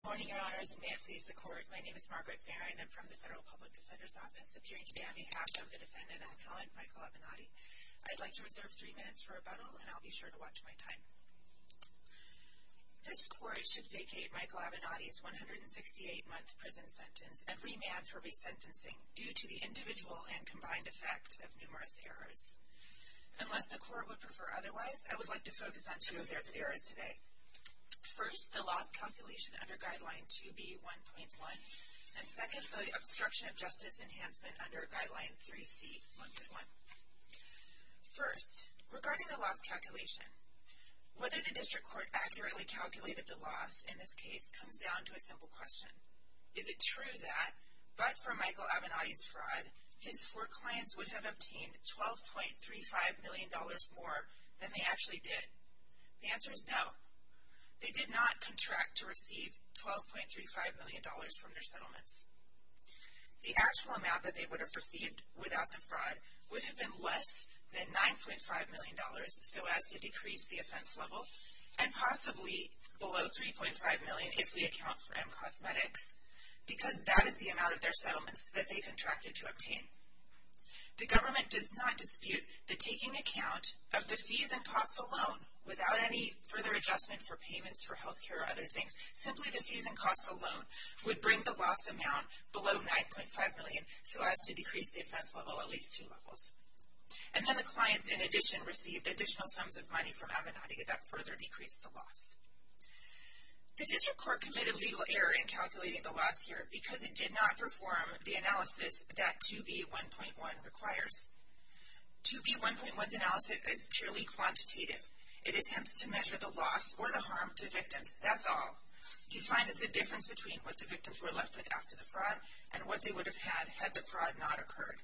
Good morning, Your Honors, and may it please the Court, my name is Margaret Farrin. I'm from the Federal Public Defender's Office, appearing today on behalf of the defendant, Alcohol and Michael Avenatti. I'd like to reserve three minutes for rebuttal, and I'll be sure to watch my time. This Court should vacate Michael Avenatti's 168-month prison sentence and remand for resentencing due to the individual and combined effect of numerous errors. Unless the Court would prefer otherwise, I would like to focus on two of those errors today. First, the loss calculation under Guideline 2B.1.1, and second, the obstruction of justice enhancement under Guideline 3C.1.1. First, regarding the loss calculation, whether the District Court accurately calculated the loss in this case comes down to a simple question. Is it true that, but for Michael Avenatti's fraud, his four clients would have obtained $12.35 million more than they actually did? The answer is no. They did not contract to receive $12.35 million from their settlements. The actual amount that they would have received without the fraud would have been less than $9.5 million, so as to decrease the offense level, and possibly below $3.5 million if we account for M Cosmetics, because that is the amount of their settlements that they contracted to obtain. The government does not dispute the taking account of the fees and costs alone, without any further adjustment for payments for health care or other things. Simply the fees and costs alone would bring the loss amount below $9.5 million, so as to decrease the offense level at least two levels. And then the clients, in addition, received additional sums of money from Avenatti that further decreased the loss. The District Court committed legal error in calculating the loss here because it did not perform the analysis that 2B1.1 requires. 2B1.1's analysis is purely quantitative. It attempts to measure the loss or the harm to victims, that's all. Defined as the difference between what the victims were left with after the fraud and what they would have had, had the fraud not occurred.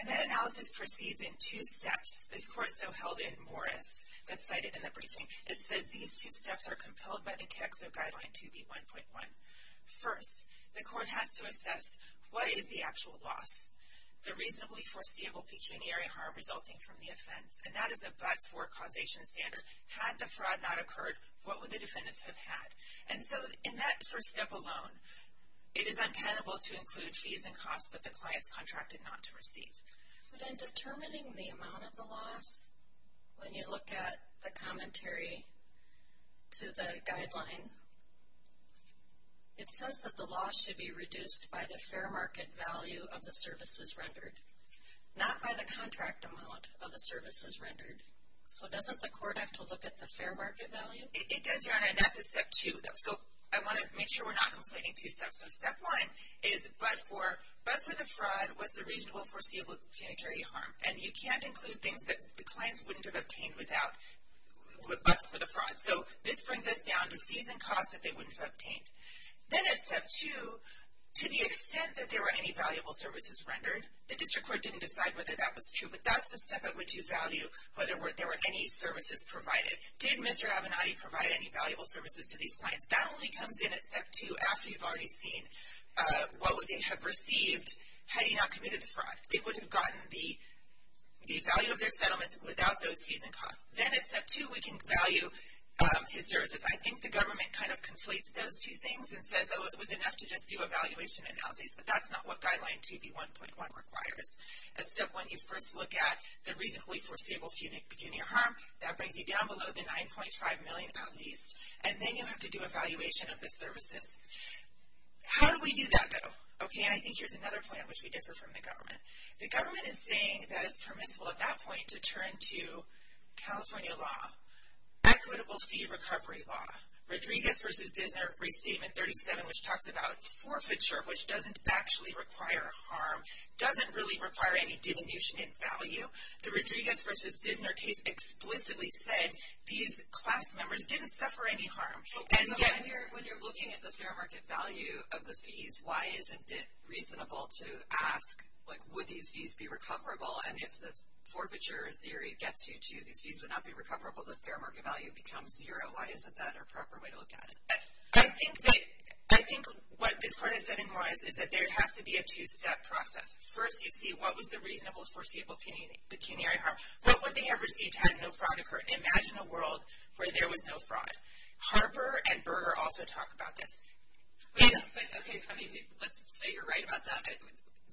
And that analysis proceeds in two steps. This court so held in Morris, that's cited in the briefing, it says these two steps are compelled by the text of Guideline 2B1.1. First, the court has to assess what is the actual loss? The reasonably foreseeable pecuniary harm resulting from the offense, and that is a but-for causation standard. Had the fraud not occurred, what would the defendants have had? And so in that first step alone, it is untenable to include fees and costs that the clients contracted not to receive. But in determining the amount of the loss, when you look at the commentary to the guideline, it says that the loss should be reduced by the fair market value of the services rendered, not by the contract amount of the services rendered. So doesn't the court have to look at the fair market value? It does, Your Honor, and that's at step two. So I want to make sure we're not conflating two steps. So step one is but-for. But-for the fraud was the reasonable foreseeable pecuniary harm. And you can't include things that the clients wouldn't have obtained without but-for the fraud. So this brings us down to fees and costs that they wouldn't have obtained. Then at step two, to the extent that there were any valuable services rendered, the district court didn't decide whether that was true, but that's the step at which you value whether there were any services provided. Did Mr. Avenatti provide any valuable services to these clients? That only comes in at step two after you've already seen what would they have received had he not committed the fraud. They would have gotten the value of their settlements without those fees and costs. Then at step two, we can value his services. I think the government kind of conflates those two things and says, oh, it was enough to just do a valuation analysis, but that's not what Guideline 2B1.1 requires. At step one, you first look at the reasonably foreseeable pecuniary harm. That brings you down below the $9.5 million at least. And then you have to do a valuation of the services. How do we do that, though? Okay, and I think here's another point at which we differ from the government. The government is saying that it's permissible at that point to turn to California law, equitable fee recovery law, Rodriguez v. Dissner Restatement 37, which talks about forfeiture, which doesn't actually require harm, doesn't really require any diminution in value. The Rodriguez v. Dissner case explicitly said these class members didn't suffer any harm. And yet when you're looking at the fair market value of the fees, why isn't it reasonable to ask, like, would these fees be recoverable? And if the forfeiture theory gets you to these fees would not be recoverable, the fair market value becomes zero. Why isn't that a proper way to look at it? I think what this part is saying is that there has to be a two-step process. First, you see what was the reasonable foreseeable pecuniary harm. What would they have received had no fraud occurred? Imagine a world where there was no fraud. Harper and Berger also talk about this. But, okay, I mean, let's say you're right about that.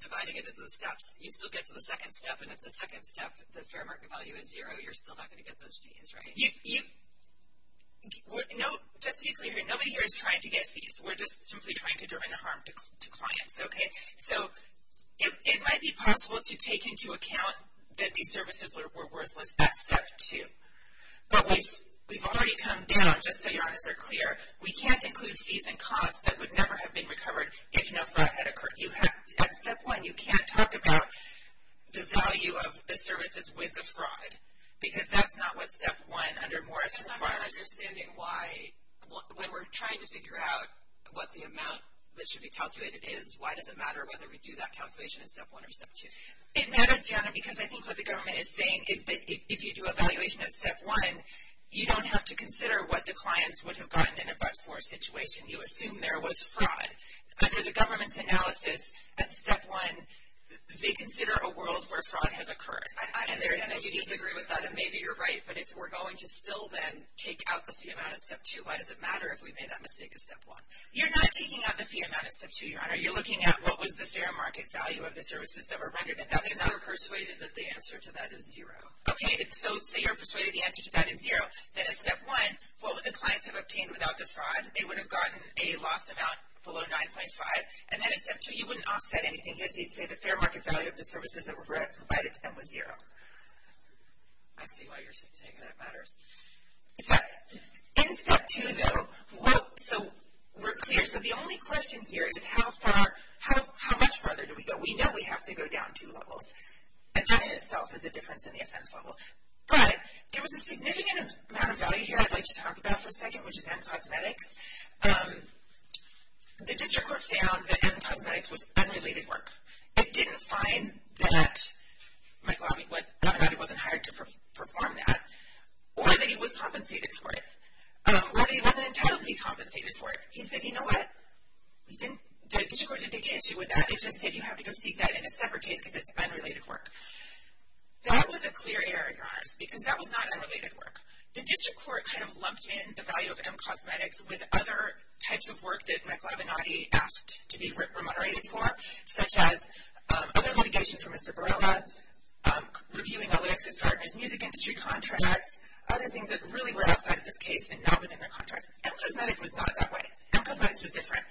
Dividing it into the steps, you still get to the second step, and if the second step, the fair market value is zero, you're still not going to get those fees, right? Just to be clear here, nobody here is trying to get fees. We're just simply trying to do no harm to clients, okay? So it might be possible to take into account that these services were worthless, that's step two. But we've already come down, just so your honors are clear, we can't include fees and costs that would never have been recovered if no fraud had occurred. That's step one. You can't talk about the value of the services with the fraud, because that's not what step one under Morris is about. I'm not understanding why, when we're trying to figure out what the amount that should be calculated is, why does it matter whether we do that calculation in step one or step two? It matters, Jana, because I think what the government is saying is that if you do a valuation at step one, you don't have to consider what the clients would have gotten in a but-for situation. You assume there was fraud. Under the government's analysis at step one, they consider a world where fraud has occurred. I understand that you disagree with that, and maybe you're right, but if we're going to still then take out the fee amount at step two, why does it matter if we made that mistake at step one? You're not taking out the fee amount at step two, your honor. You're looking at what was the fair market value of the services that were rendered. Because you're persuaded that the answer to that is zero. Okay, so say you're persuaded the answer to that is zero. Then at step one, what would the clients have obtained without the fraud? They would have gotten a loss amount below 9.5. And then at step two, you wouldn't offset anything. You'd say the fair market value of the services that were provided to them was zero. I see why you're saying that matters. In step two, though, we're clear. So the only question here is how much farther do we go? We know we have to go down two levels. And that in itself is a difference in the offense level. But there was a significant amount of value here I'd like to talk about for a second, which is M Cosmetics. The district court found that M Cosmetics was unrelated work. It didn't find that McLavinati wasn't hired to perform that, or that he was compensated for it, or that he wasn't entitled to be compensated for it. He said, you know what, the district court didn't take issue with that. It just said you have to go seek that in a separate case because it's unrelated work. That was a clear error, Your Honors, because that was not unrelated work. The district court kind of lumped in the value of M Cosmetics with other types of work that McLavinati asked to be remoderated for, such as other litigation for Mr. Borrella, reviewing Alexis Gardner's music industry contracts, other things that really were outside of this case and not within their contracts. M Cosmetics was not that way. M Cosmetics was different.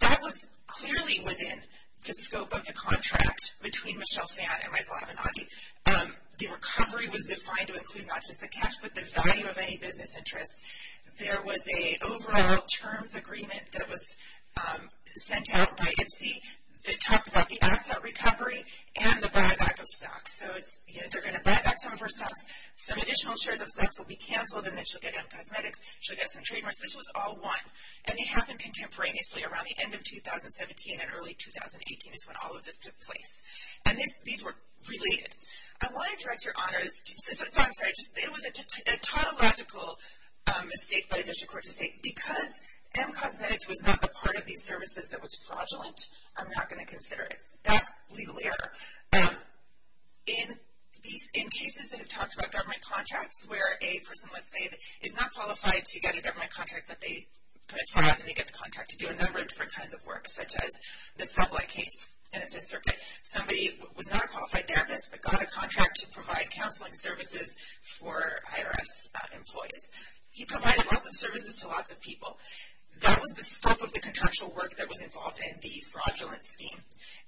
That was clearly within the scope of the contract between Michelle Phan and McLavinati. The recovery was defined to include not just the cash, but the value of any business interests. There was an overall terms agreement that was sent out by MC that talked about the asset recovery and the buyback of stocks. So they're going to buy back some of her stocks. Some additional shares of stocks will be canceled, and then she'll get M Cosmetics. She'll get some trademarks. This was all one, and it happened contemporaneously. Around the end of 2017 and early 2018 is when all of this took place. And these were related. I want to direct your honors. I'm sorry. It was a tautological mistake by the district court to say, because M Cosmetics was not a part of these services that was fraudulent, I'm not going to consider it. That's legal error. In cases that have talked about government contracts where a person, let's say, is not qualified to get a government contract that they could sign off, and they get the contract to do a number of different kinds of work, such as the supply case, and it's a circuit. Somebody was not a qualified therapist but got a contract to provide counseling services for IRS employees. He provided lots of services to lots of people. That was the scope of the contractual work that was involved in the fraudulent scheme,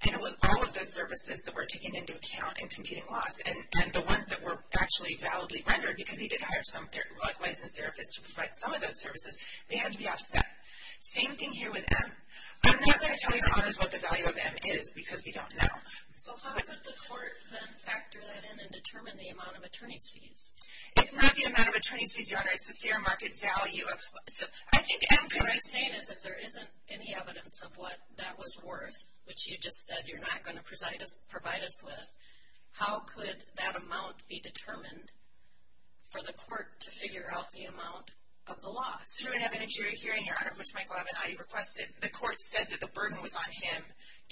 and it was all of those services that were taken into account in computing loss, and the ones that were actually validly rendered, because he did hire some licensed therapists to provide some of those services, they had to be offset. Same thing here with M. I'm not going to tell you, Your Honors, what the value of M is because we don't know. So how could the court then factor that in and determine the amount of attorney's fees? It's not the amount of attorney's fees, Your Honor. It's the fair market value. What I'm saying is if there isn't any evidence of what that was worth, which you just said you're not going to provide us with, how could that amount be determined for the court to figure out the amount of the loss? Through an evidentiary hearing, Your Honor, which Michael Avenatti requested, the court said that the burden was on him.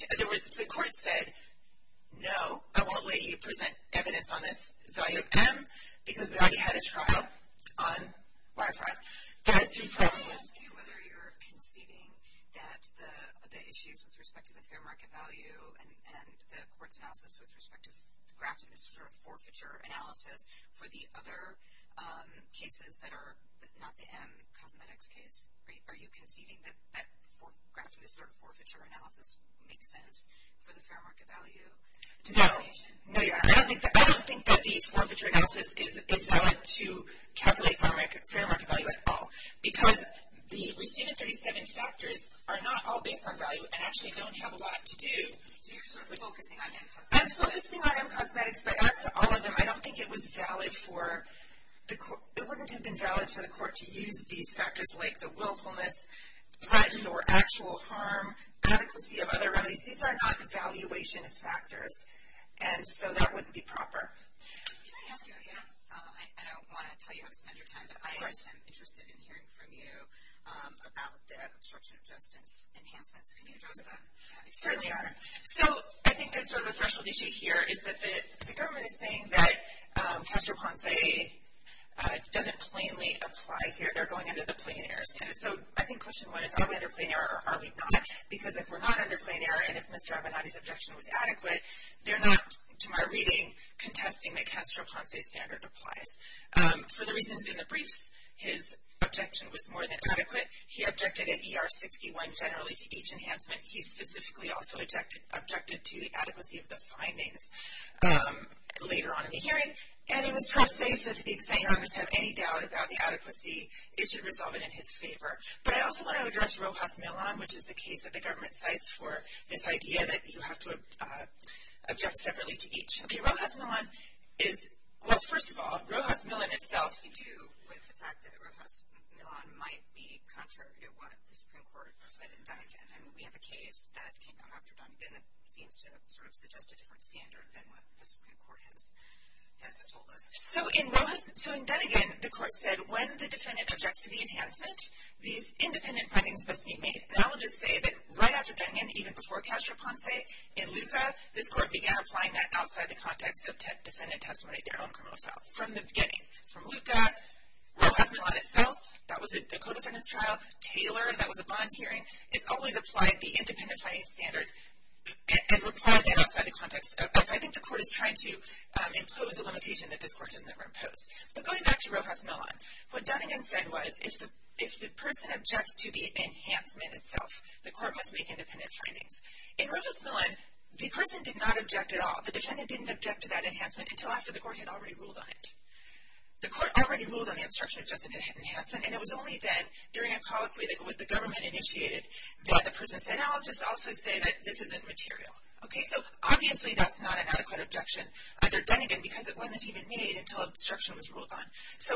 In other words, the court said, no, I won't let you present evidence on this value of M because we already had a trial on wire fraud. There are three problems. I was going to ask you whether you're conceiving that the issues with respect to the fair market value and the court's analysis with respect to grafting this sort of forfeiture analysis for the other cases that are not the M cosmetics case. Are you conceiving that grafting this sort of forfeiture analysis makes sense for the fair market value determination? No, Your Honor. I don't think that the forfeiture analysis is valid to calculate fair market value at all because the receiving 37 factors are not all based on value and actually don't have a lot to do. So you're sort of focusing on M cosmetics? I'm focusing on M cosmetics, but that's all of them. I don't think it was valid for the court. It wouldn't have been valid for the court to use these factors like the willfulness, threat or actual harm, adequacy of other remedies. These are not valuation factors, and so that wouldn't be proper. Can I ask you, I don't want to tell you how to spend your time, but I am interested in hearing from you about the obstruction of justice enhancements. Can you address that? Certainly, Your Honor. So I think there's sort of a threshold issue here, is that the government is saying that Castro-Ponce doesn't plainly apply here. They're going under the plain error standard. So I think question one is are we under plain error or are we not? Because if we're not under plain error and if Mr. Avenatti's objection was adequate, they're not, to my reading, contesting that Castro-Ponce's standard applies. For the reasons in the briefs, his objection was more than adequate. He objected at ER 61 generally to each enhancement. He specifically also objected to the adequacy of the findings later on in the hearing, and he was pro se, so to the extent you have any doubt about the adequacy, it should resolve it in his favor. But I also want to address Rojas Millon, which is the case that the government cites for this idea that you have to object separately to each. Okay, Rojas Millon is, well, first of all, Rojas Millon itself. What does he do with the fact that Rojas Millon might be contrary to what the Supreme Court said in Dunnegan? I mean, we have a case that came out after Dunnegan that seems to sort of suggest a different standard than what the Supreme Court has told us. So in Dunnegan, the court said when the defendant objects to the enhancement, these independent findings must be made. And I will just say that right after Dunnegan, even before Castro-Ponce, in Luca, this court began applying that outside the context of defendant testimony at their own criminal trial. From the beginning. From Luca, Rojas Millon itself, that was a co-defendant's trial. Taylor, that was a bond hearing. It's always applied the independent finding standard and required that outside the context. So I think the court is trying to impose a limitation that this court has never imposed. But going back to Rojas Millon, what Dunnegan said was if the person objects to the enhancement itself, the court must make independent findings. In Rojas Millon, the person did not object at all. The defendant didn't object to that enhancement until after the court had already ruled on it. The court already ruled on the obstruction of justice enhancement, and it was only then during a colloquy that the government initiated that the person said, I'll just also say that this isn't material. So obviously that's not an adequate objection under Dunnegan because it wasn't even made until obstruction was ruled on. So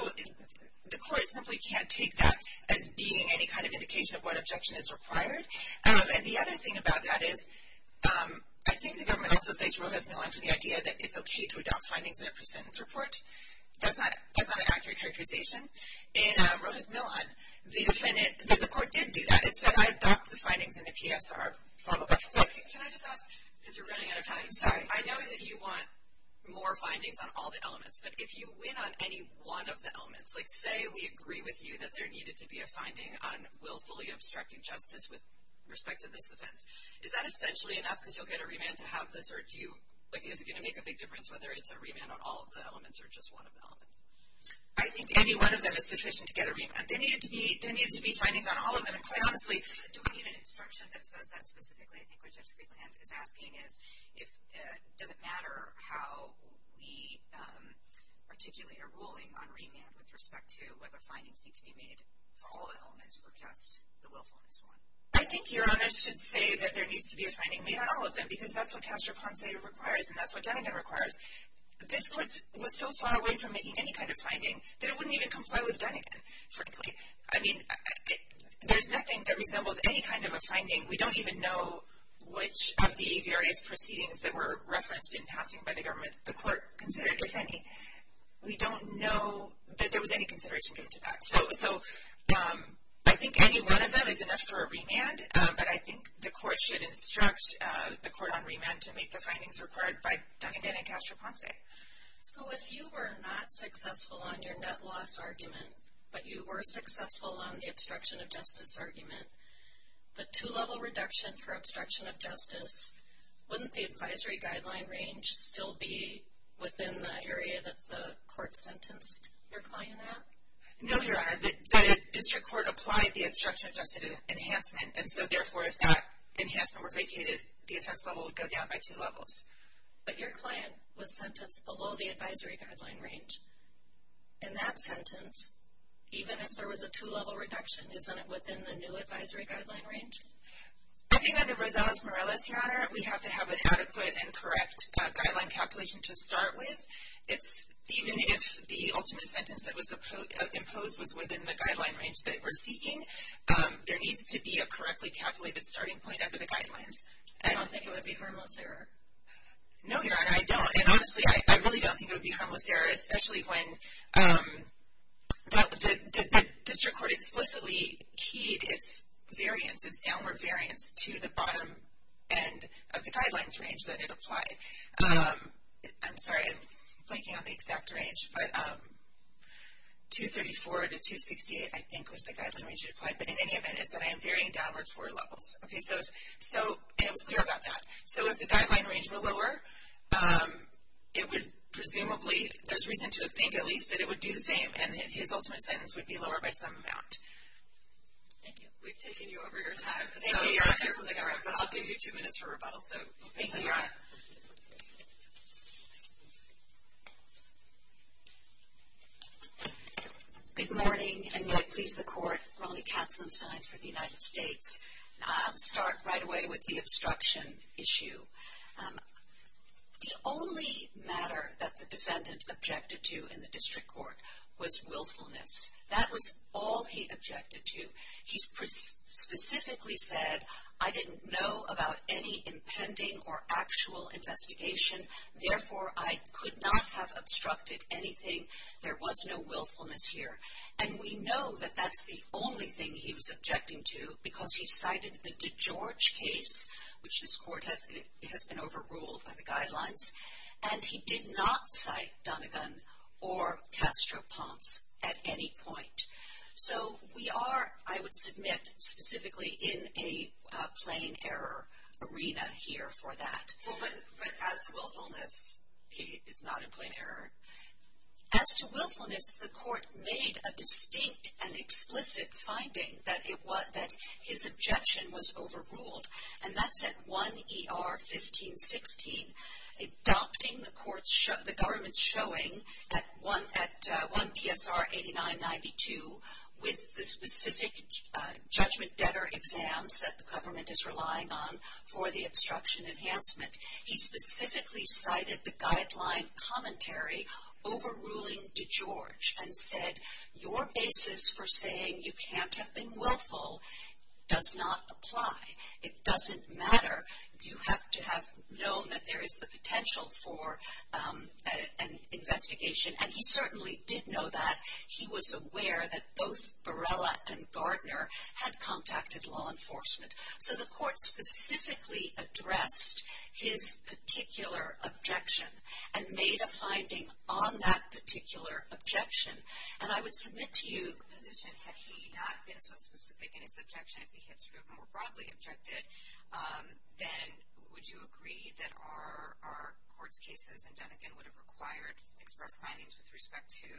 the court simply can't take that as being any kind of indication of what objection is required. And the other thing about that is I think the government also says Rojas Millon for the idea that it's okay to adopt findings in a presentence report. That's not an accurate characterization. In Rojas Millon, the court did do that. It said, I adopt the findings in the PSR. Can I just ask, because you're running out of time. Sorry. I know that you want more findings on all the elements. But if you win on any one of the elements, like say we agree with you that there needed to be a finding on willfully obstructing justice with respect to this offense, is that essentially enough because you'll get a remand to have this? Or is it going to make a big difference whether it's a remand on all of the elements or just one of the elements? I think any one of them is sufficient to get a remand. There needed to be findings on all of them. And quite honestly, do we need an instruction that says that specifically? I think what Judge Friedland is asking is does it matter how we articulate a ruling on remand with respect to whether findings need to be made for all the elements or just the willfulness one. I think Your Honor should say that there needs to be a finding made on all of them because that's what Castroponce requires and that's what Dunegan requires. This court was so far away from making any kind of finding that it wouldn't even comply with Dunegan, frankly. I mean, there's nothing that resembles any kind of a finding. We don't even know which of the various proceedings that were referenced in passing by the government the court considered, if any. We don't know that there was any consideration given to that. So I think any one of them is enough for a remand, but I think the court should instruct the court on remand to make the findings required by Dunegan and Castroponce. So if you were not successful on your net loss argument, but you were successful on the obstruction of justice argument, the two-level reduction for obstruction of justice, wouldn't the advisory guideline range still be within the area that the court sentenced your client at? No, Your Honor. The district court applied the obstruction of justice enhancement, and so therefore if that enhancement were vacated, the offense level would go down by two levels. But your client was sentenced below the advisory guideline range. In that sentence, even if there was a two-level reduction, isn't it within the new advisory guideline range? I think under Rosales-Morales, Your Honor, we have to have an adequate and correct guideline calculation to start with. Even if the ultimate sentence that was imposed was within the guideline range that we're seeking, there needs to be a correctly calculated starting point under the guidelines. I don't think it would be a harmless error. No, Your Honor, I don't. And honestly, I really don't think it would be a harmless error, especially when that district court explicitly keyed its variance, its downward variance, to the bottom end of the guidelines range that it applied. I'm sorry, I'm blanking on the exact range, but 234 to 268, I think, was the guideline range it applied. But in any event, it said I am varying downward four levels. So it was clear about that. So if the guideline range were lower, it would presumably – there's reason to think, at least, that it would do the same and his ultimate sentence would be lower by some amount. Thank you. We've taken you over your time. Thank you, Your Honor. But I'll give you two minutes for rebuttal. Thank you, Your Honor. Good morning, and may it please the Court, Ronnie Katzenstein for the United States. I'll start right away with the obstruction issue. The only matter that the defendant objected to in the district court was willfulness. That was all he objected to. He specifically said, I didn't know about any impending or actual investigation. Therefore, I could not have obstructed anything. There was no willfulness here. And we know that that's the only thing he was objecting to because he cited the DeGeorge case, which this court has been overruled by the guidelines, and he did not cite Donegan or Castro-Ponce at any point. So we are, I would submit, specifically in a plain error arena here for that. Well, but as to willfulness, it's not a plain error. As to willfulness, the court made a distinct and explicit finding that his objection was overruled, and that's at 1 E.R. 1516, adopting the government's showing at 1 T.S.R. 8992 with the specific judgment debtor exams that the government is relying on for the obstruction enhancement. He specifically cited the guideline commentary overruling DeGeorge and said your basis for saying you can't have been willful does not apply. It doesn't matter. You have to have known that there is the potential for an investigation, and he certainly did know that. He was aware that both Barella and Gardner had contacted law enforcement. So the court specifically addressed his particular objection and made a finding on that particular objection. And I would submit to you, had he not been so specific in his objection, if he had sort of more broadly objected, then would you agree that our court's cases and Donegan would have required express findings with respect to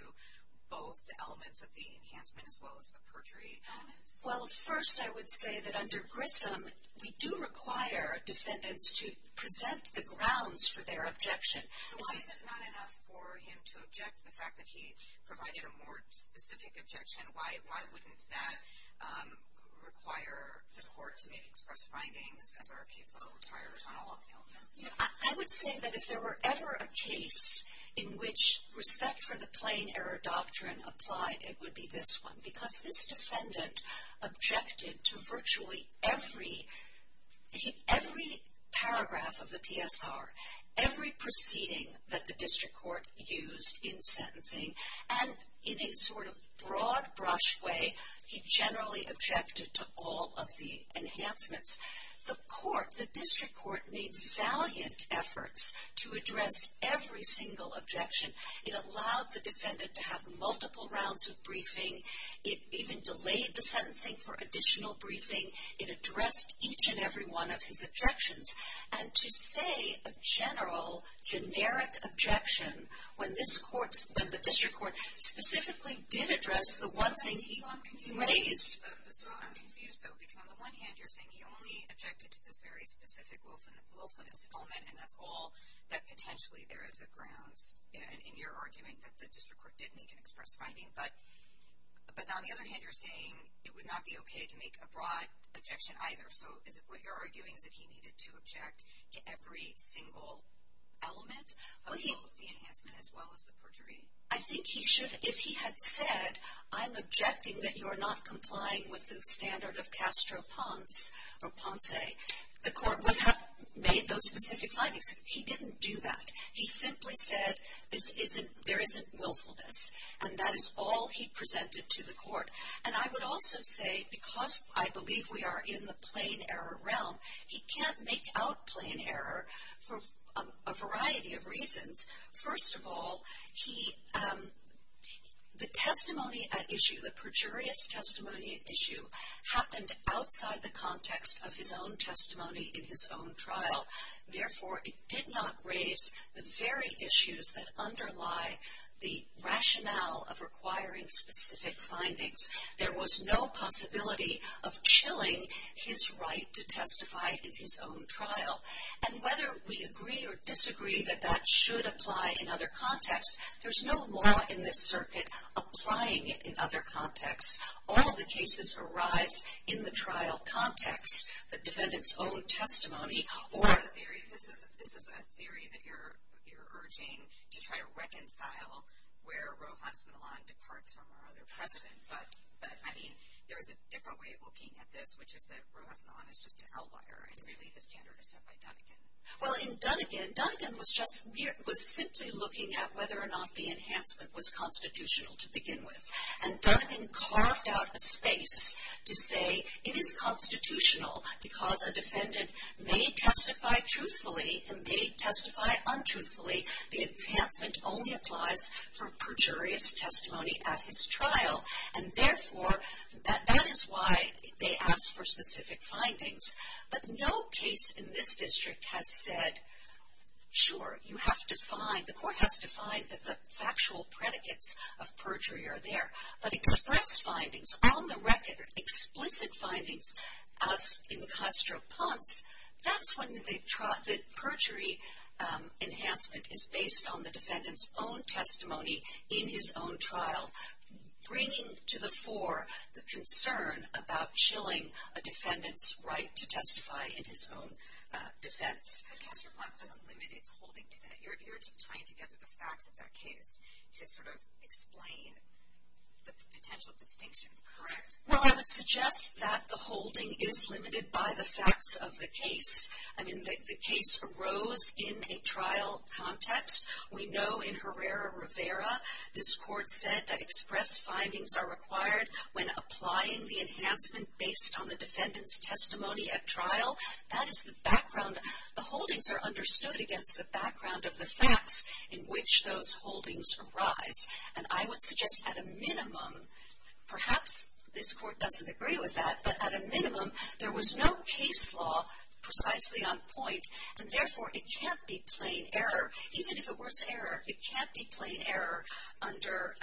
both the elements of the enhancement as well as the perjury elements? Well, first I would say that under Grissom, we do require defendants to present the grounds for their objection. Why is it not enough for him to object to the fact that he provided a more specific objection? Why wouldn't that require the court to make express findings as our case level retires on all of the elements? I would say that if there were ever a case in which respect for the plain error doctrine applied, it would be this one, because this defendant objected to virtually every paragraph of the PSR, every proceeding that the district court used in sentencing, and in a sort of broad-brush way, he generally objected to all of the enhancements. The court, the district court, made valiant efforts to address every single objection. It allowed the defendant to have multiple rounds of briefing. It even delayed the sentencing for additional briefing. It addressed each and every one of his objections. And to say a general, generic objection when the district court specifically did address the one thing he raised. So I'm confused, though, because on the one hand you're saying he only objected to this very specific and that's all that potentially there is at grounds in your argument that the district court didn't even express finding. But on the other hand, you're saying it would not be okay to make a broad objection either. So is it what you're arguing is that he needed to object to every single element of the enhancement as well as the perjury? I think he should. If he had said, I'm objecting that you're not complying with the standard of Castro-Ponce, the court would have made those specific findings. He didn't do that. He simply said there isn't willfulness and that is all he presented to the court. And I would also say because I believe we are in the plain error realm, he can't make out plain error for a variety of reasons. First of all, the testimony at issue, the perjurious testimony at issue, happened outside the context of his own testimony in his own trial. Therefore, it did not raise the very issues that underlie the rationale of requiring specific findings. There was no possibility of chilling his right to testify in his own trial. And whether we agree or disagree that that should apply in other contexts, there's no law in this circuit applying it in other contexts. All the cases arise in the trial context, the defendant's own testimony or the theory. This is a theory that you're urging to try to reconcile where Rojas Milan departs from our other precedent. But, I mean, there is a different way of looking at this, which is that Rojas Milan is just an outlier. And, really, the standard is set by Dunnegan. Well, in Dunnegan, Dunnegan was simply looking at whether or not the enhancement was constitutional to begin with. And Dunnegan carved out a space to say it is constitutional because a defendant may testify truthfully and may testify untruthfully. The enhancement only applies for perjurious testimony at his trial. And, therefore, that is why they asked for specific findings. But no case in this district has said, sure, you have to find, the court has to find that the factual predicates of perjury are there. But express findings, on the record, explicit findings of Incastro-Ponce, that's when the perjury enhancement is based on the defendant's own testimony in his own trial, bringing to the fore the concern about chilling a defendant's right to testify in his own defense. But Incastro-Ponce doesn't limit its holding to that. You're just tying together the facts of that case to sort of explain the potential distinction, correct? Well, I would suggest that the holding is limited by the facts of the case. I mean, the case arose in a trial context. We know in Herrera-Rivera this court said that express findings are required when applying the enhancement based on the defendant's testimony at trial. That is the background. The holdings are understood against the background of the facts in which those holdings arise. And I would suggest at a minimum, perhaps this court doesn't agree with that, but at a minimum there was no case law precisely on point, and, therefore, it can't be plain error, even if it were to err, it can't be plain error under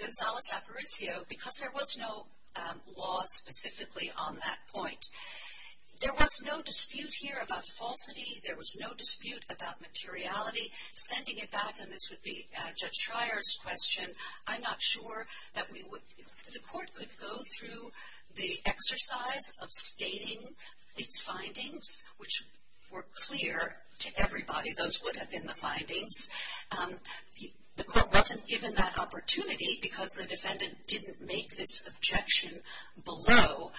Gonzales-Aparicio because there was no law specifically on that point. There was no dispute here about falsity. There was no dispute about materiality. Sending it back, and this would be Judge Schreier's question, I'm not sure that the court could go through the exercise of stating its findings, which were clear to everybody. Those would have been the findings. The court wasn't given that opportunity because the defendant didn't make this objection below.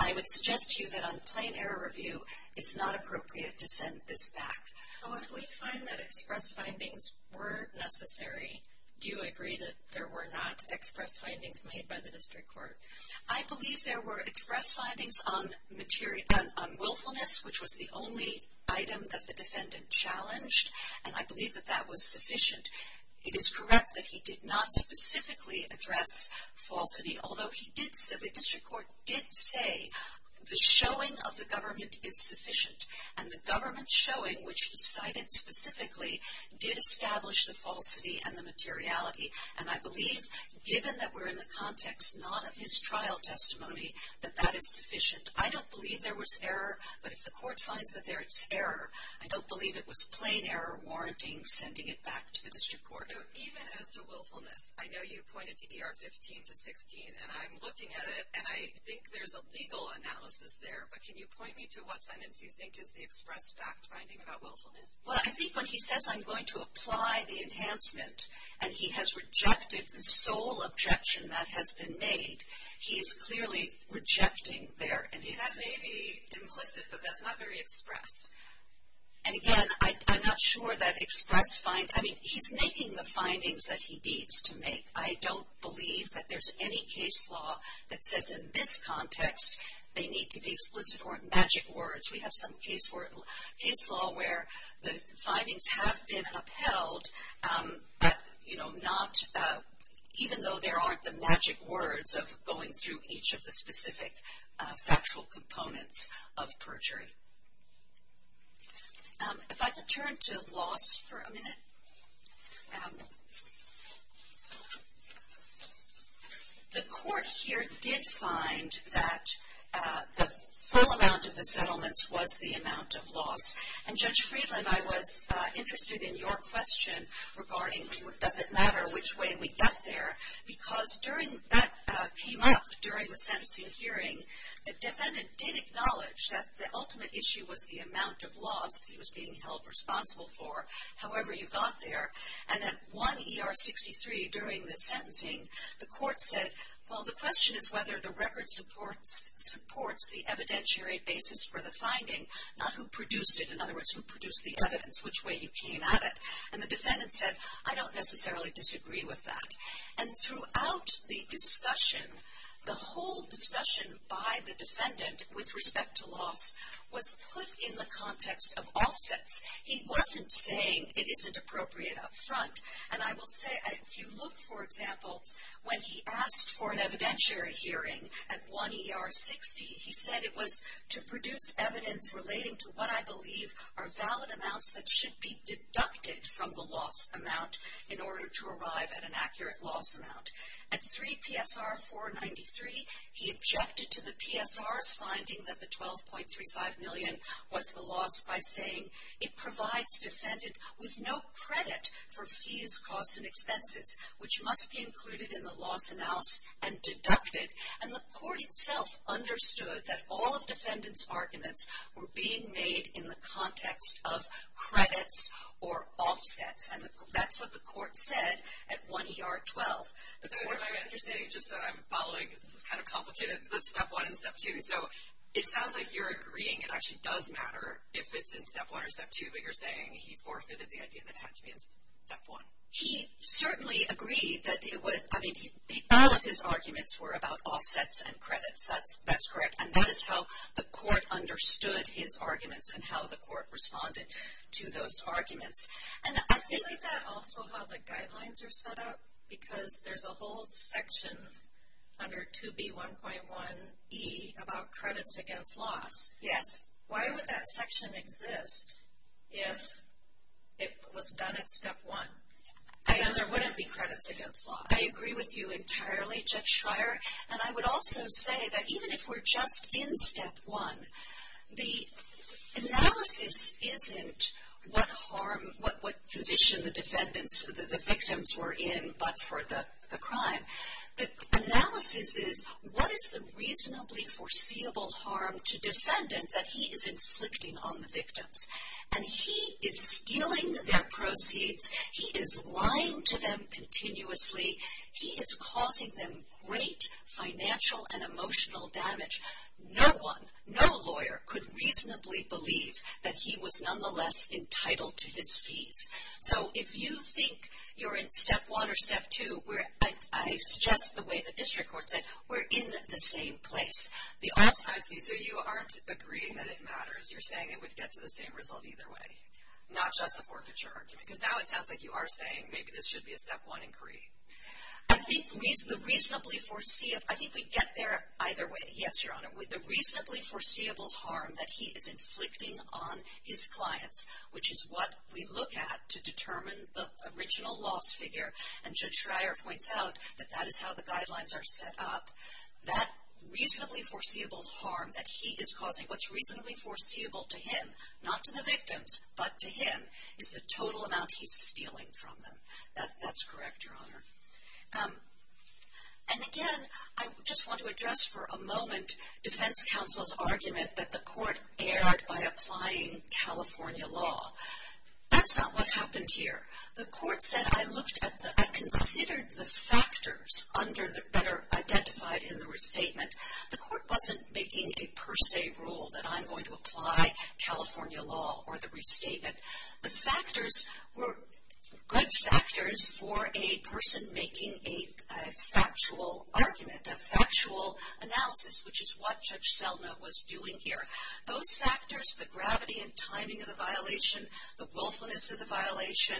I would suggest to you that on plain error review it's not appropriate to send this back. So if we find that express findings were necessary, do you agree that there were not express findings made by the district court? I believe there were express findings on willfulness, which was the only item that the defendant challenged, and I believe that that was sufficient. It is correct that he did not specifically address falsity, although the district court did say the showing of the government is sufficient, and the government's showing, which was cited specifically, did establish the falsity and the materiality, and I believe, given that we're in the context not of his trial testimony, that that is sufficient. I don't believe there was error, but if the court finds that there is error, I don't believe it was plain error warranting sending it back to the district court. Even as to willfulness, I know you pointed to ER 15 to 16, and I'm looking at it, and I think there's a legal analysis there, but can you point me to what sentence you think is the express fact finding about willfulness? Well, I think when he says, I'm going to apply the enhancement, and he has rejected the sole objection that has been made, he is clearly rejecting there. That may be implicit, but that's not very express. And again, I'm not sure that express find, I mean, he's making the findings that he needs to make. I don't believe that there's any case law that says in this context they need to be explicit or magic words. We have some case law where the findings have been upheld, but, you know, not even though there aren't the magic words of going through each of the specific factual components of perjury. If I could turn to loss for a minute. The court here did find that the full amount of the settlements was the amount of loss, and Judge Friedland, I was interested in your question regarding does it matter which way we got there, because that came up during the sentencing hearing. The defendant did acknowledge that the ultimate issue was the amount of loss he was being held responsible for. However, you got there, and at 1 ER 63 during the sentencing, the court said, well, the question is whether the record supports the evidentiary basis for the finding, not who produced it. In other words, who produced the evidence, which way you came at it. And the defendant said, I don't necessarily disagree with that. And throughout the discussion, the whole discussion by the defendant with respect to loss was put in the context of offsets. He wasn't saying it isn't appropriate up front. And I will say, if you look, for example, when he asked for an evidentiary hearing at 1 ER 60, he said it was to produce evidence relating to what I believe are valid amounts that should be deducted from the loss amount in order to arrive at an accurate loss amount. At 3 PSR 493, he objected to the PSR's finding that the 12.35 million was the loss by saying, it provides defendant with no credit for fees, costs, and expenses, which must be included in the loss announce and deducted. And the court itself understood that all of defendant's arguments were being made in the context of credits or offsets. And that's what the court said at 1 ER 12. I'm following, because this is kind of complicated, the step one and step two. So it sounds like you're agreeing it actually does matter if it's in step one or step two, but you're saying he forfeited the idea that it had to be in step one. He certainly agreed that all of his arguments were about offsets and credits. That's correct. And that is how the court understood his arguments and how the court responded to those arguments. Isn't that also how the guidelines are set up? Because there's a whole section under 2B1.1e about credits against loss. Yes. Why would that section exist if it was done at step one? Because then there wouldn't be credits against loss. I agree with you entirely, Judge Schreier. And I would also say that even if we're just in step one, the analysis isn't what harm, what position the defendants, the victims were in but for the crime. The analysis is what is the reasonably foreseeable harm to defendant that he is inflicting on the victims. And he is stealing their proceeds. He is lying to them continuously. He is causing them great financial and emotional damage. No one, no lawyer could reasonably believe that he was nonetheless entitled to his fees. So if you think you're in step one or step two, I suggest the way the district court said, we're in the same place. So you aren't agreeing that it matters. You're saying it would get to the same result either way, not just a forfeiture argument. Because now it sounds like you are saying maybe this should be a step one inquiry. I think the reasonably foreseeable, I think we'd get there either way. Yes, Your Honor. With the reasonably foreseeable harm that he is inflicting on his clients, which is what we look at to determine the original loss figure. And Judge Schreier points out that that is how the guidelines are set up. That reasonably foreseeable harm that he is causing, what's reasonably foreseeable to him, not to the victims, but to him, is the total amount he's stealing from them. That's correct, Your Honor. And again, I just want to address for a moment defense counsel's argument that the court erred by applying California law. That's not what happened here. The court said, I looked at the, I considered the factors that are identified in the restatement. The court wasn't making a per se rule that I'm going to apply California law or the restatement. The factors were good factors for a person making a factual argument, a factual analysis, which is what Judge Selma was doing here. Those factors, the gravity and timing of the violation, the willfulness of the violation,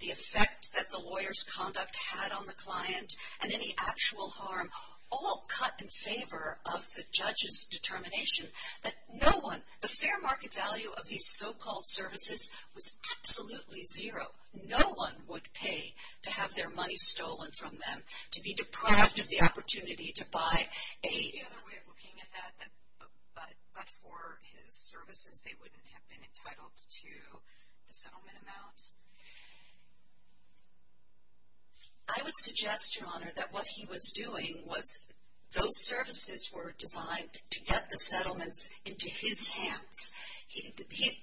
the effect that the lawyer's conduct had on the client, and any actual harm, all cut in favor of the judge's determination that no one, the fair market value of these so-called services was absolutely zero. No one would pay to have their money stolen from them, to be deprived of the opportunity to buy. The other way of looking at that, but for his services, they wouldn't have been entitled to the settlement amounts. I would suggest, Your Honor, that what he was doing was those services were designed to get the settlements into his hands.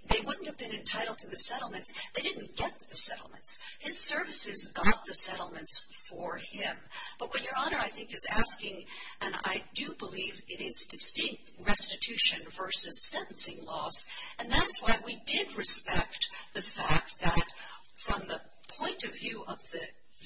They wouldn't have been entitled to the settlements. They didn't get the settlements. His services got the settlements for him. But what Your Honor, I think, is asking, and I do believe it is distinct restitution versus sentencing laws, and that's why we did respect the fact that from the point of view of the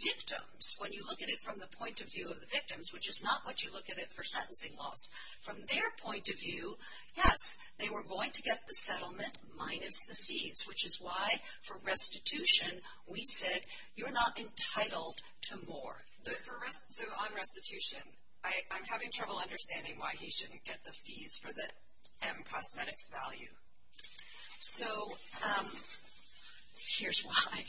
victims, when you look at it from the point of view of the victims, which is not what you look at it for sentencing laws, from their point of view, yes, they were going to get the settlement minus the fees, which is why for restitution, we said you're not entitled to more. So on restitution, I'm having trouble understanding why he shouldn't get the fees for the M cosmetics value. So here's why.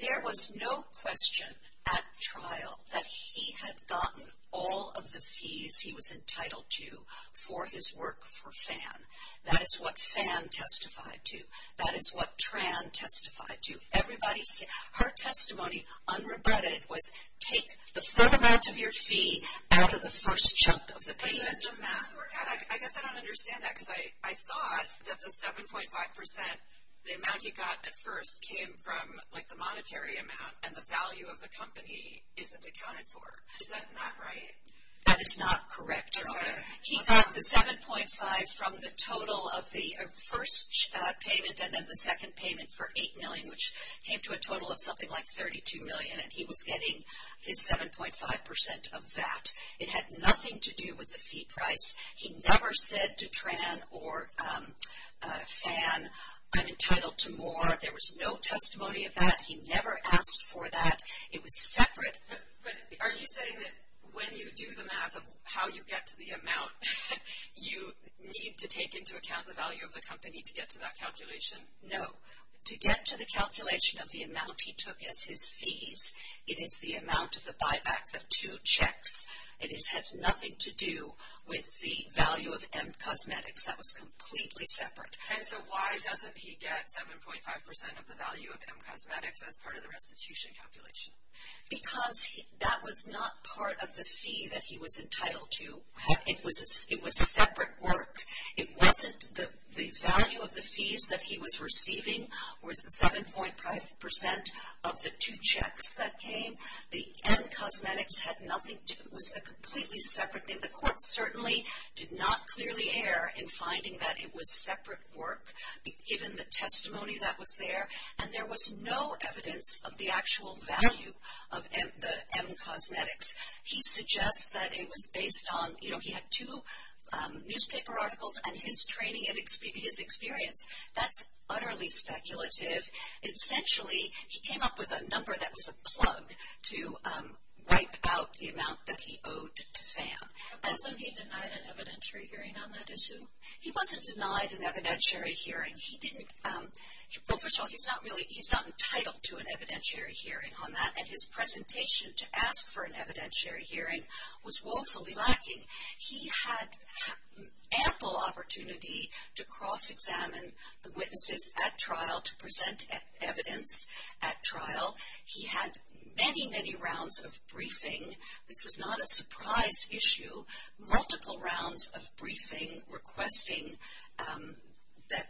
There was no question at trial that he had gotten all of the fees he was entitled to for his work for FAN. That is what FAN testified to. That is what TRAN testified to. Her testimony, unrebutted, was take the full amount of your fee out of the first chunk of the payment. I guess I don't understand that because I thought that the 7.5 percent, the amount he got at first came from, like, the monetary amount, and the value of the company isn't accounted for. Is that not right? That is not correct, Your Honor. He got the 7.5 from the total of the first payment and then the second payment for 8 million, which came to a total of something like 32 million, and he was getting his 7.5 percent of that. It had nothing to do with the fee price. He never said to TRAN or FAN, I'm entitled to more. There was no testimony of that. He never asked for that. It was separate. But are you saying that when you do the math of how you get to the amount, you need to take into account the value of the company to get to that calculation? No. To get to the calculation of the amount he took as his fees, it is the amount of the buyback of two checks. It has nothing to do with the value of M Cosmetics. That was completely separate. And so why doesn't he get 7.5 percent of the value of M Cosmetics as part of the restitution calculation? Because that was not part of the fee that he was entitled to. It was separate work. It wasn't the value of the fees that he was receiving was the 7.5 percent of the two checks that came. M Cosmetics had nothing to do with it. It was a completely separate thing. The court certainly did not clearly err in finding that it was separate work, given the testimony that was there, and there was no evidence of the actual value of M Cosmetics. He suggests that it was based on, you know, he had two newspaper articles and his training and his experience. That's utterly speculative. Essentially, he came up with a number that was a plug to wipe out the amount that he owed to Pham. And so he denied an evidentiary hearing on that issue? He wasn't denied an evidentiary hearing. He didn't, well, first of all, he's not really, he's not entitled to an evidentiary hearing on that, and his presentation to ask for an evidentiary hearing was woefully lacking. He had ample opportunity to cross-examine the witnesses at trial to present evidence at trial. He had many, many rounds of briefing. This was not a surprise issue. Multiple rounds of briefing requesting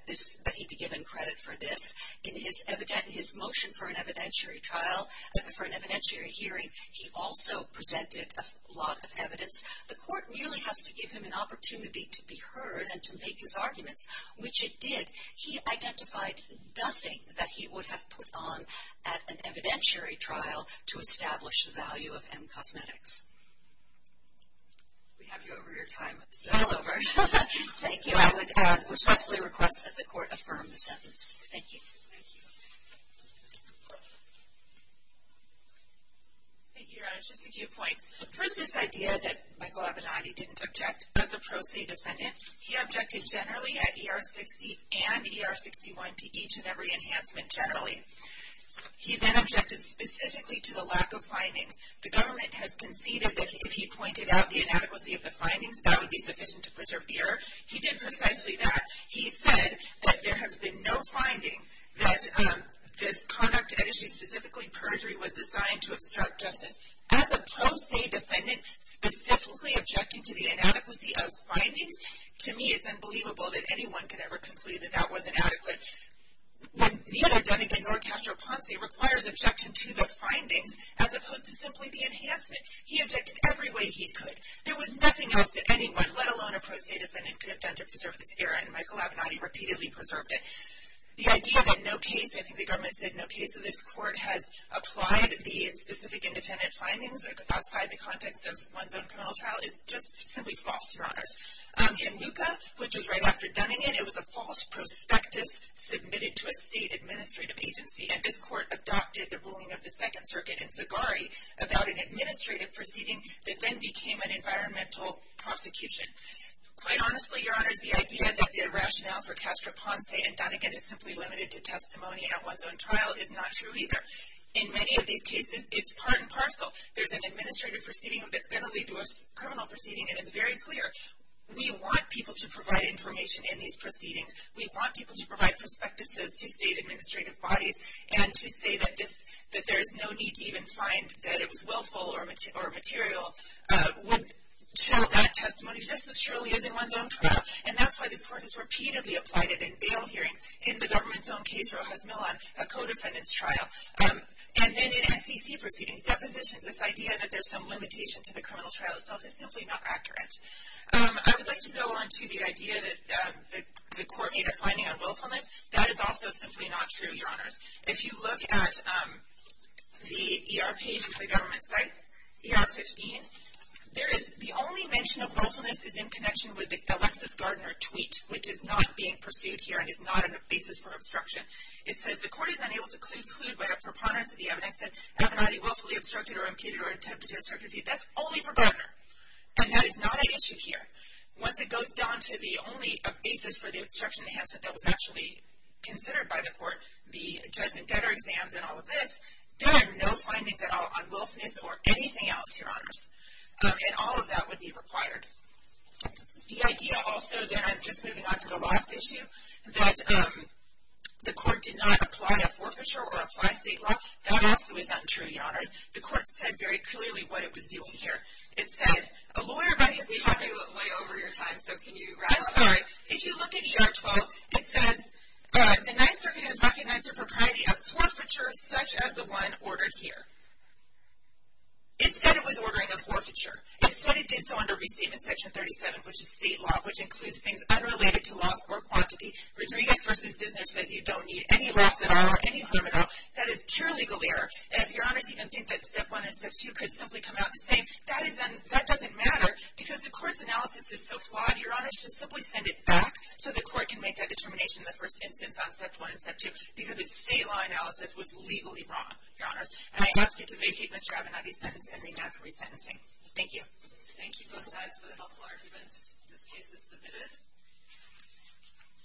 that he be given credit for this. In his motion for an evidentiary trial, for an evidentiary hearing, he also presented a lot of evidence. The court merely has to give him an opportunity to be heard and to make his arguments, which it did. He identified nothing that he would have put on at an evidentiary trial to establish the value of M Cosmetics. We have you over your time. I'm over. Thank you. I would respectfully request that the court affirm the sentence. Thank you. Thank you. Thank you, Your Honor. Just a few points. First, this idea that Michael Abilardi didn't object as a pro se defendant. He objected generally at ER-60 and ER-61 to each and every enhancement generally. He then objected specifically to the lack of findings. The government has conceded that if he pointed out the inadequacy of the findings, that would be sufficient to preserve the error. He did precisely that. He said that there has been no finding that this conduct at issue, specifically perjury, was designed to obstruct justice. As a pro se defendant, specifically objecting to the inadequacy of findings, to me it's unbelievable that anyone could ever conclude that that was inadequate. When neither Dunnigan nor Castro Ponce requires objection to the findings as opposed to simply the enhancement, he objected every way he could. There was nothing else that anyone, let alone a pro se defendant, could have done to preserve this error, and Michael Abilardi repeatedly preserved it. The idea that no case, I think the government said no case of this court, has applied the specific independent findings outside the context of one's own criminal trial is just simply false, Your Honors. In LUCA, which was right after Dunnigan, it was a false prospectus submitted to a state administrative agency, and this court adopted the ruling of the Second Circuit in Zagari about an administrative proceeding that then became an environmental prosecution. Quite honestly, Your Honors, the idea that the rationale for Castro Ponce and Dunnigan is simply limited to testimony at one's own trial is not true either. In many of these cases, it's part and parcel. There's an administrative proceeding that's going to lead to a criminal proceeding, and it's very clear. We want people to provide information in these proceedings. We want people to provide prospectuses to state administrative bodies, and to say that there's no need to even find that it was willful or material, would show that testimony just as surely as in one's own trial, and that's why this court has repeatedly applied it in bail hearings. In the government's own case, Rojas Millon, a co-defendant's trial, and then in SEC proceedings, depositions, this idea that there's some limitation to the criminal trial itself is simply not accurate. I would like to go on to the idea that the court made a finding on willfulness. That is also simply not true, Your Honors. If you look at the ER page of the government's sites, ER 15, the only mention of willfulness is in connection with the Alexis Gardner tweet, which is not being pursued here and is not a basis for obstruction. It says, The court is unable to conclude by a preponderance of the evidence that Avenatti willfully obstructed or impeded or attempted to obstruct a defeat. That's only for Gardner, and that is not an issue here. Once it goes down to the only basis for the obstruction enhancement that was actually considered by the court, the judgment debtor exams and all of this, there are no findings at all on willfulness or anything else, Your Honors. And all of that would be required. The idea also, then I'm just moving on to the last issue, that the court did not apply a forfeiture or apply state law. That also is untrue, Your Honors. The court said very clearly what it was doing here. It said, We have way over your time, so can you wrap up? I'm sorry. If you look at ER 12, it says, The Ninth Circuit has recognized the propriety of forfeiture such as the one ordered here. It said it was ordering a forfeiture. It said it did so under Restatement Section 37, which is state law, which includes things unrelated to loss or quantity. Rodriguez v. Dissner says you don't need any loss at all or any harm at all. That is pure legal error. And if Your Honors even think that Step 1 and Step 2 could simply come out the same, that doesn't matter because the court's analysis is so flawed, Your Honors. Just simply send it back so the court can make that determination in the first instance on Step 1 and Step 2 because its state law analysis was legally wrong, Your Honors. And I ask you to vacate Mr. Avenatti's sentence and remand for resentencing. Thank you. Thank you both sides for the helpful arguments. This case is submitted.